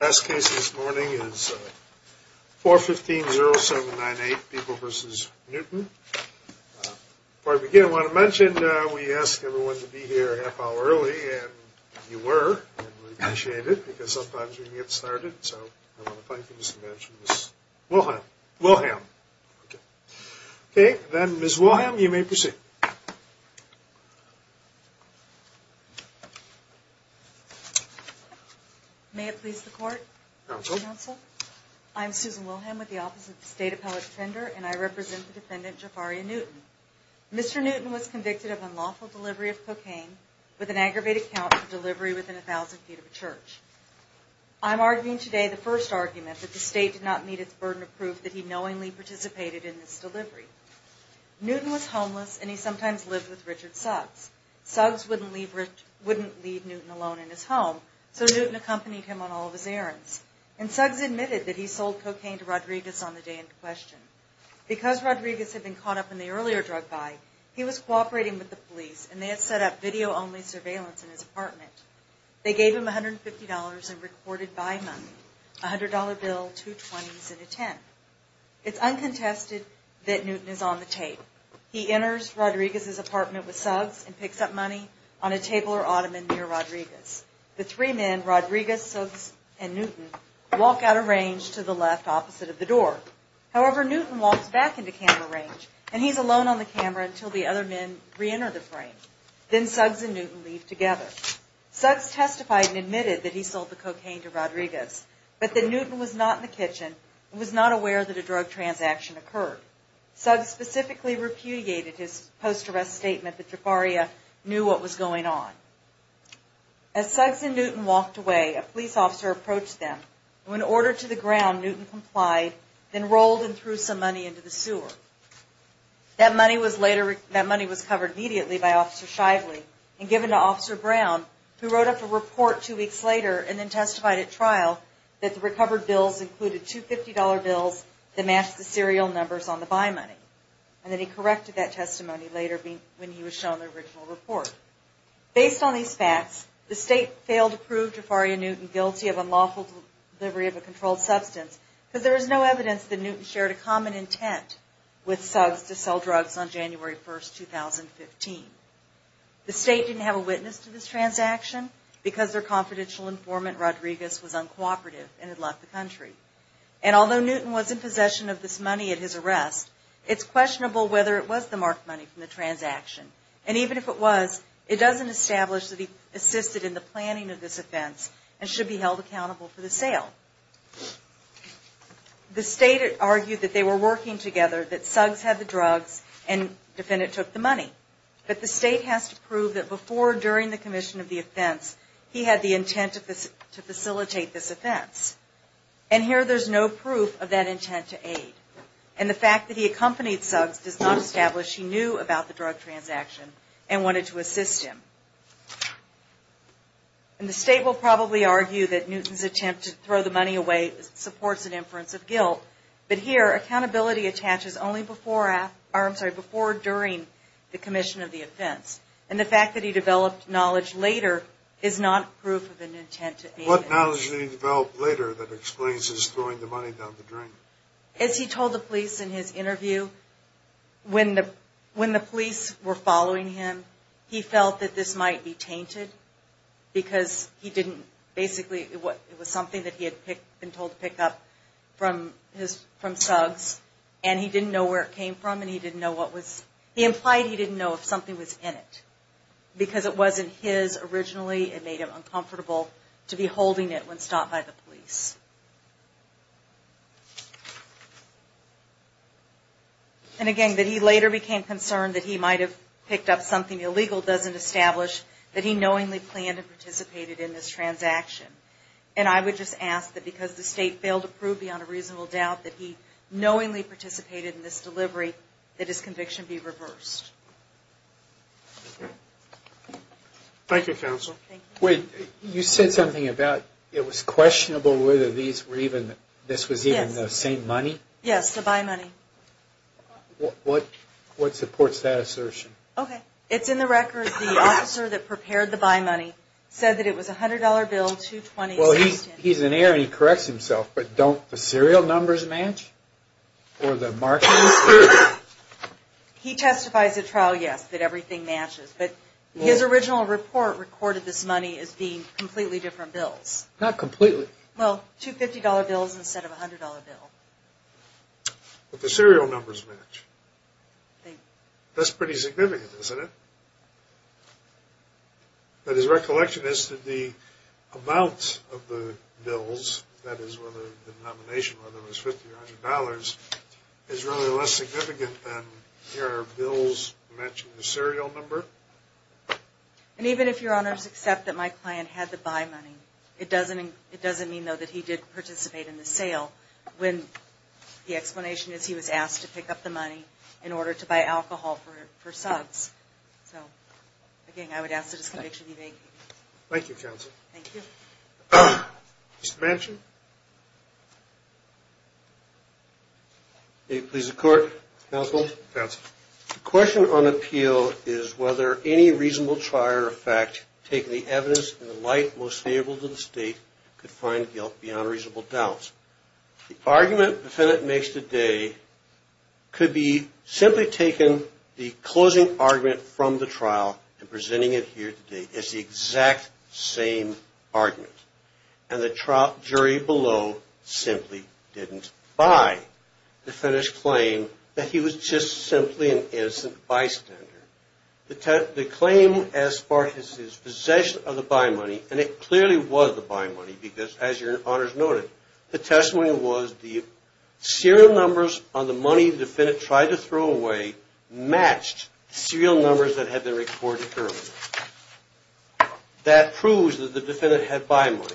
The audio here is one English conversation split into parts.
The last case this morning is 415-0798, People v. Newton. Before I begin, I want to mention we asked everyone to be here a half hour early, and you were. We appreciate it, because sometimes we can get started. So I want to thank you, Ms. Wilhelm. Okay, then, Ms. Wilhelm, you may proceed. May it please the court? Counsel. Counsel. I'm Susan Wilhelm with the Office of the State Appellate Defender, and I represent the defendant, Jafariah Newton. Mr. Newton was convicted of unlawful delivery of cocaine with an aggravated count for delivery within 1,000 feet of a church. I'm arguing today the first argument that the state did not meet its burden of proof that he knowingly participated in this delivery. Newton was homeless, and he sometimes lived with Richard Suggs. Suggs wouldn't leave Newton alone in his home, so Newton accompanied him on all of his errands. And Suggs admitted that he sold cocaine to Rodriguez on the day in question. Because Rodriguez had been caught up in the earlier drug buy, he was cooperating with the police, and they had set up video-only surveillance in his apartment. They gave him $150 in recorded buy money, a $100 bill, two 20s, and a 10. It's uncontested that Newton is on the tape. He enters Rodriguez's apartment with Suggs and picks up money on a table or ottoman near Rodriguez. The three men, Rodriguez, Suggs, and Newton, walk out of range to the left opposite of the door. However, Newton walks back into camera range, and he's alone on the camera until the other men reenter the frame. Then Suggs and Newton leave together. Suggs testified and admitted that he sold the cocaine to Rodriguez, but that Newton was not in the kitchen and was not aware that a drug transaction occurred. Suggs specifically repudiated his post-arrest statement that Trefaria knew what was going on. As Suggs and Newton walked away, a police officer approached them. When ordered to the ground, Newton complied, then rolled and threw some money into the sewer. That money was covered immediately by Officer Shively and given to Officer Brown, who wrote up a report two weeks later and then testified at trial that the recovered bills included $250 bills that matched the serial numbers on the buy money. And then he corrected that testimony later when he was shown the original report. Based on these facts, the state failed to prove Trefaria Newton guilty of unlawful delivery of a controlled substance because there is no evidence that Newton shared a common intent with Suggs to sell drugs on January 1, 2015. The state didn't have a witness to this transaction because their confidential informant, Rodriguez, was uncooperative and had left the country. And although Newton was in possession of this money at his arrest, it's questionable whether it was the marked money from the transaction. And even if it was, it doesn't establish that he assisted in the planning of this offense and should be held accountable for the sale. The state argued that they were working together, that Suggs had the drugs, and the defendant took the money. But the state has to prove that before or during the commission of the offense, he had the intent to facilitate this offense. And here there's no proof of that intent to aid. And the fact that he accompanied Suggs does not establish he knew about the drug transaction and wanted to assist him. And the state will probably argue that Newton's attempt to throw the money away supports an inference of guilt. But here, accountability attaches only before or during the commission of the offense. And the fact that he developed knowledge later is not proof of an intent to aid. What knowledge did he develop later that explains his throwing the money down the drain? As he told the police in his interview, when the police were following him, he felt that this might be tainted because he didn't basically, it was something that he had been told to pick up from Suggs, and he didn't know where it came from and he didn't know what was, he implied he didn't know if something was in it. Because it wasn't his originally, it made him uncomfortable to be holding it when stopped by the police. And again, that he later became concerned that he might have picked up something illegal doesn't establish that he knowingly planned and participated in this transaction. And I would just ask that because the state failed to prove beyond a reasonable doubt that he knowingly participated in this delivery, that his conviction be reversed. Thank you, counsel. So these were even, this was even the same money? Yes, the buy money. What supports that assertion? Okay, it's in the record, the officer that prepared the buy money said that it was a $100 bill, $220. Well, he's an heir and he corrects himself, but don't the serial numbers match? Or the markings? He testifies at trial, yes, that everything matches. But his original report recorded this money as being completely different bills. Not completely. Well, two $50 bills instead of a $100 bill. But the serial numbers match. That's pretty significant, isn't it? But his recollection is that the amount of the bills, that is whether the denomination, whether it was $50 or $100, is really less significant than your bills matching the serial number. And even if your honors accept that my client had the buy money, it doesn't mean though that he did participate in the sale, when the explanation is he was asked to pick up the money in order to buy alcohol for subs. So, again, I would ask the disconviction be vacated. Thank you, counsel. Thank you. Mr. Manchin. May it please the court, counsel. Counsel. The question on appeal is whether any reasonable trial or fact, taking the evidence in the light most favorable to the state, could find guilt beyond reasonable doubt. The argument the defendant makes today could be simply taken the closing argument from the trial and presenting it here today as the exact same argument. And the jury below simply didn't buy. The defendants claim that he was just simply an innocent bystander. The claim as far as his possession of the buy money, and it clearly was the buy money because as your honors noted, the testimony was the serial numbers on the money the defendant tried to throw away matched serial numbers that had been recorded earlier. That proves that the defendant had buy money.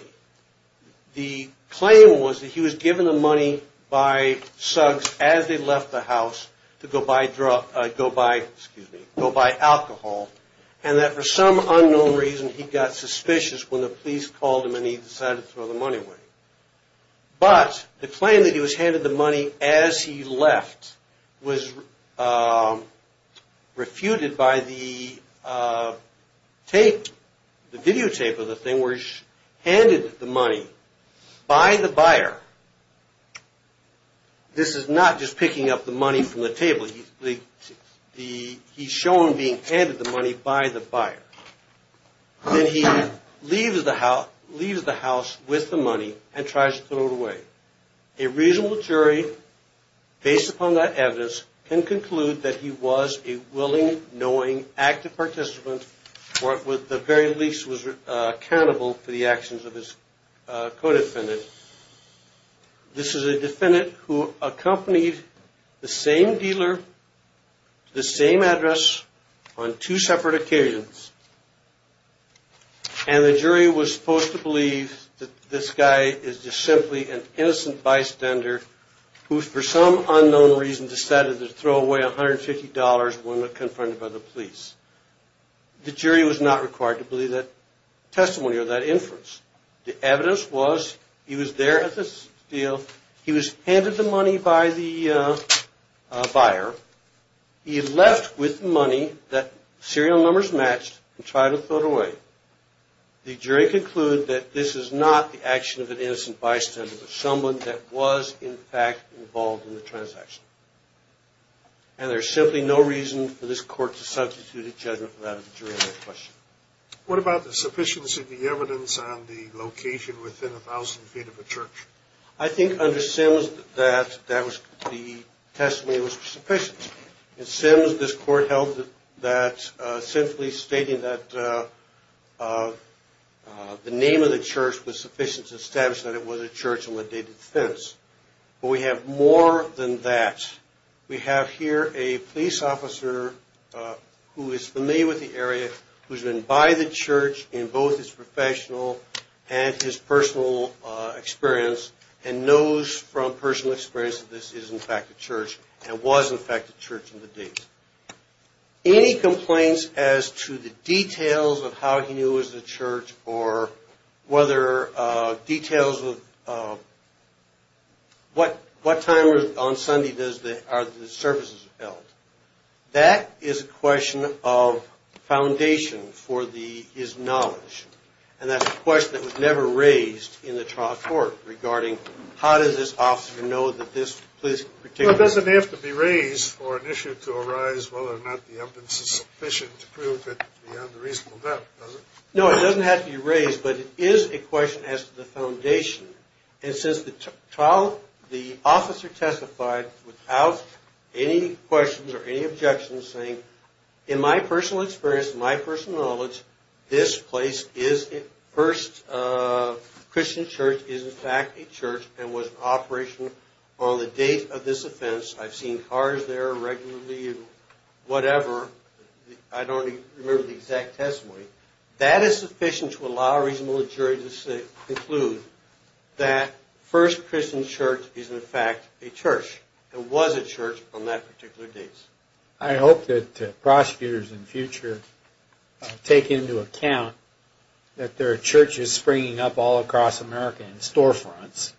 The claim was that he was given the money by subs as they left the house to go buy alcohol and that for some unknown reason he got suspicious when the police called him and he decided to throw the money away. But the claim that he was handed the money as he left was refuted by the tape, the videotape of the thing where he's handed the money by the buyer. This is not just picking up the money from the table. He's shown being handed the money by the buyer. Then he leaves the house with the money and tries to throw it away. A reasonable jury based upon that evidence can conclude that he was a willing, knowing, active participant or at the very least was accountable for the actions of his co-defendant. This is a defendant who accompanied the same dealer to the same address on two separate occasions, and the jury was supposed to believe that this guy is just simply an innocent bystander who for some unknown reason decided to throw away $150 when confronted by the police. The jury was not required to believe that testimony or that inference. The evidence was he was there at the deal. He was handed the money by the buyer. He left with the money that serial numbers matched and tried to throw it away. The jury concluded that this is not the action of an innocent bystander, but someone that was in fact involved in the transaction. And there's simply no reason for this court to substitute a judgment without a jury on that question. What about the sufficiency of the evidence on the location within 1,000 feet of a church? I think under Sims that the testimony was sufficient. In Sims, this court held that simply stating that the name of the church was sufficient to establish that it was a church on a dated fence. But we have more than that. We have here a police officer who is familiar with the area, who's been by the church in both his professional and his personal experience, and knows from personal experience that this is in fact a church and was in fact a church in the days. Any complaints as to the details of how he knew it was a church or whether details of what time on Sunday are the services held? That is a question of foundation for the is knowledge. And that's a question that was never raised in the trial court regarding how does this officer know that this particular. It doesn't have to be raised for an issue to arise, whether or not the evidence is sufficient to prove it beyond a reasonable doubt, does it? No, it doesn't have to be raised, but it is a question as to the foundation. And since the trial, the officer testified without any questions or any objections, saying in my personal experience, my personal knowledge, this place, First Christian Church is in fact a church and was in operation on the date of this offense. I've seen cars there regularly, whatever. I don't remember the exact testimony. That is sufficient to allow a reasonable jury to conclude that First Christian Church is in fact a church. It was a church on that particular date. I hope that prosecutors in the future take into account that there are churches springing up all across America in storefronts,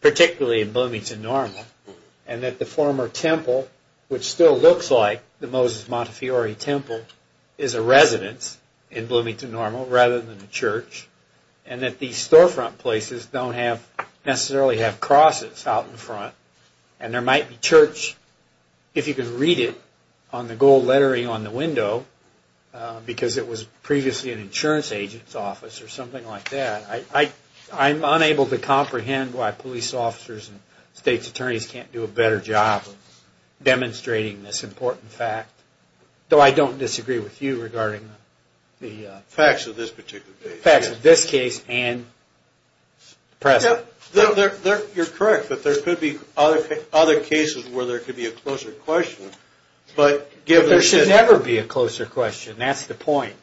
particularly in Bloomington Normal, and that the former temple, which still looks like the Moses Montefiore Temple, is a residence in Bloomington Normal rather than a church, and that these storefront places don't necessarily have crosses out in front, and there might be church, if you can read it on the gold lettering on the window, because it was previously an insurance agent's office or something like that. I'm unable to comprehend why police officers and state's attorneys can't do a better job of demonstrating this important fact, though I don't disagree with you regarding the facts of this particular case. The facts of this case and the present. You're correct, but there could be other cases where there could be a closer question. There should never be a closer question. That's the point.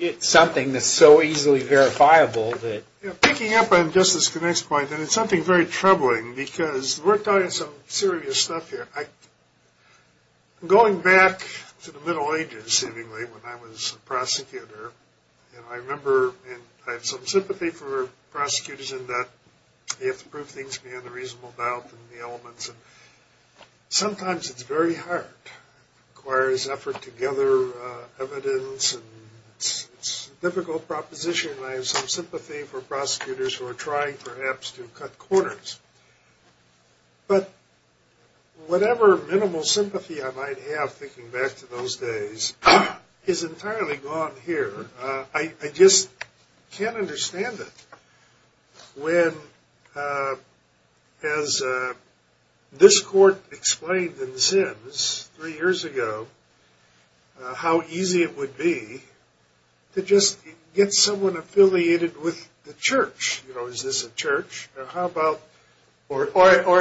It's something that's so easily verifiable. Picking up on Justice Connick's point, and it's something very troubling, because we're talking some serious stuff here. Going back to the Middle Ages, seemingly, when I was a prosecutor, and I remember, and I have some sympathy for prosecutors in that they have to prove things beyond a reasonable doubt in the elements. Sometimes it's very hard. It requires effort to gather evidence, and it's a difficult proposition, and I have some sympathy for prosecutors who are trying, perhaps, to cut corners. But whatever minimal sympathy I might have, thinking back to those days, is entirely gone here. I just can't understand it. When, as this court explained in Sims three years ago, how easy it would be to just get someone affiliated with the church. You know, is this a church? Or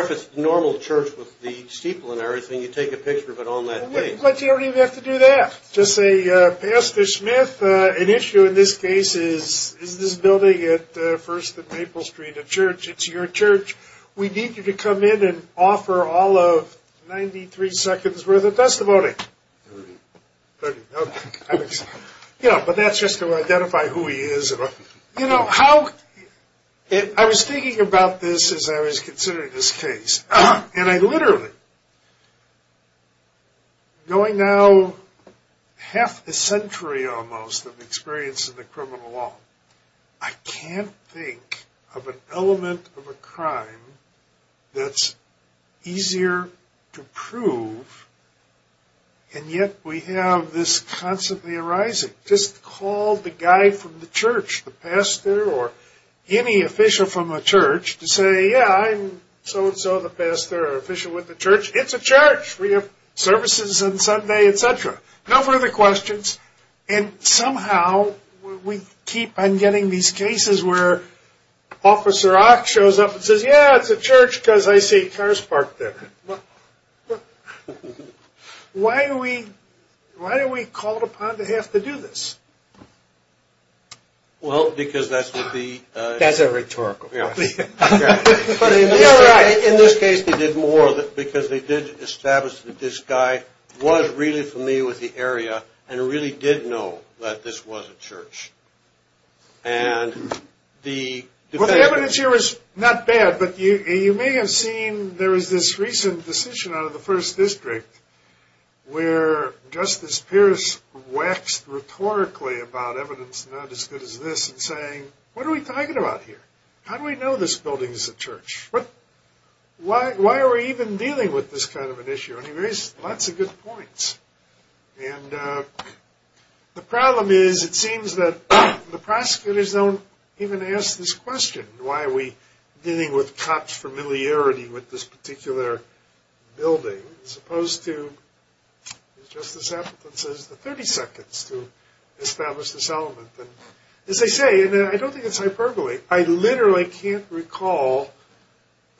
if it's a normal church with the steeple and everything, you take a picture of it on that page. But you don't even have to do that. Just say, Pastor Smith, an issue in this case is, is this building at First and Maple Street a church? It's your church. We need you to come in and offer all of 93 seconds' worth of testimony. But that's just to identify who he is. You know, how, I was thinking about this as I was considering this case, and I literally, going now half a century almost of experience in the criminal law, I can't think of an element of a crime that's easier to prove, and yet we have this constantly arising. Just call the guy from the church, the pastor or any official from a church to say, yeah, I'm so and so, the pastor or official with the church. It's a church. We have services on Sunday, et cetera. No further questions. And somehow we keep on getting these cases where Officer Ock shows up and says, yeah, it's a church because I see cars parked there. Why are we called upon to have to do this? Well, because that would be. That's a rhetorical question. In this case they did more because they did establish that this guy was really familiar with the area and really did know that this was a church. Well, the evidence here is not bad, but you may have seen there was this recent decision out of the First District where Justice Pierce waxed rhetorically about evidence not as good as this and saying, what are we talking about here? How do we know this building is a church? Why are we even dealing with this kind of an issue? And he raised lots of good points. And the problem is it seems that the prosecutors don't even ask this question. Why are we dealing with cops' familiarity with this particular building as opposed to, as Justice Appleton says, the 30 seconds to establish this element? As I say, and I don't think it's hyperbole, I literally can't recall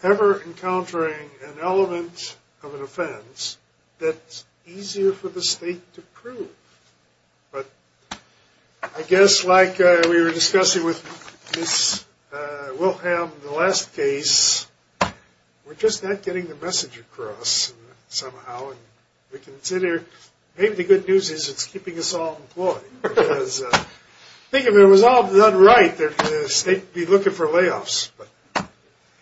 ever encountering an element of an offense that's easier for the state to prove. But I guess like we were discussing with Ms. Wilhelm in the last case, we're just not getting the message across somehow. We consider maybe the good news is it's keeping us all employed. Because I think if it was all done right, the state would be looking for layoffs.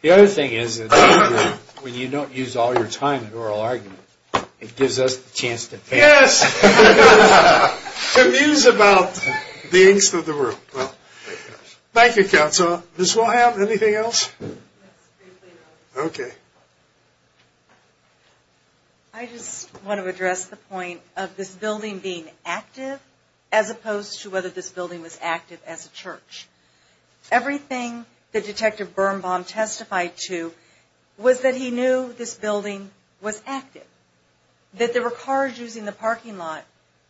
The other thing is that when you don't use all your time in oral argument, it gives us the chance to paint. Yes, to muse about the angst of the world. Thank you, Counselor. Ms. Wilhelm, anything else? Okay. Thank you. I just want to address the point of this building being active as opposed to whether this building was active as a church. Everything that Detective Birnbaum testified to was that he knew this building was active. That there were cars using the parking lot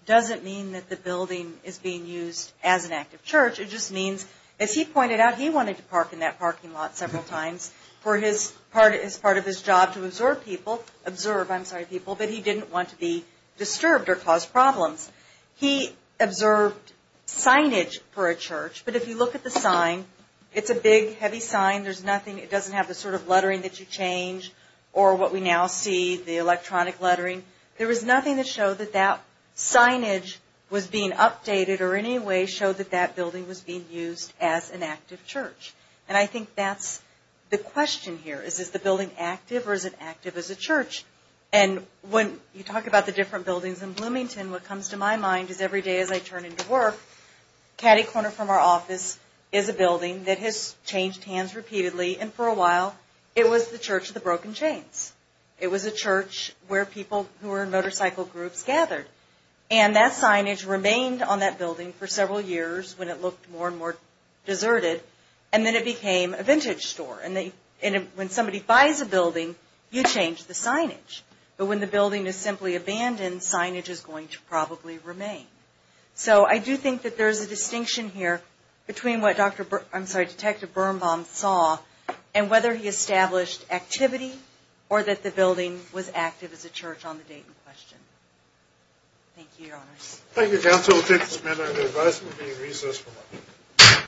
doesn't mean that the building is being used as an active church. It just means, as he pointed out, he wanted to park in that parking lot several times as part of his job to observe people, but he didn't want to be disturbed or cause problems. He observed signage for a church, but if you look at the sign, it's a big, heavy sign. It doesn't have the sort of lettering that you change or what we now see, the electronic lettering. There was nothing that showed that that signage was being updated or in any way showed that that building was being used as an active church. And I think that's the question here is, is the building active or is it active as a church? And when you talk about the different buildings in Bloomington, what comes to my mind is every day as I turn into work, caddy corner from our office is a building that has changed hands repeatedly. And for a while, it was the Church of the Broken Chains. It was a church where people who were in motorcycle groups gathered. And that signage remained on that building for several years when it looked more and more deserted. And then it became a vintage store. And when somebody buys a building, you change the signage. But when the building is simply abandoned, signage is going to probably remain. So I do think that there's a distinction here between what Detective Birnbaum saw and whether he established activity or that the building was active as a church on the date in question. Thank you, Your Honors. Thank you, Counsel. We'll take this matter into advice and we'll be in recess for lunch.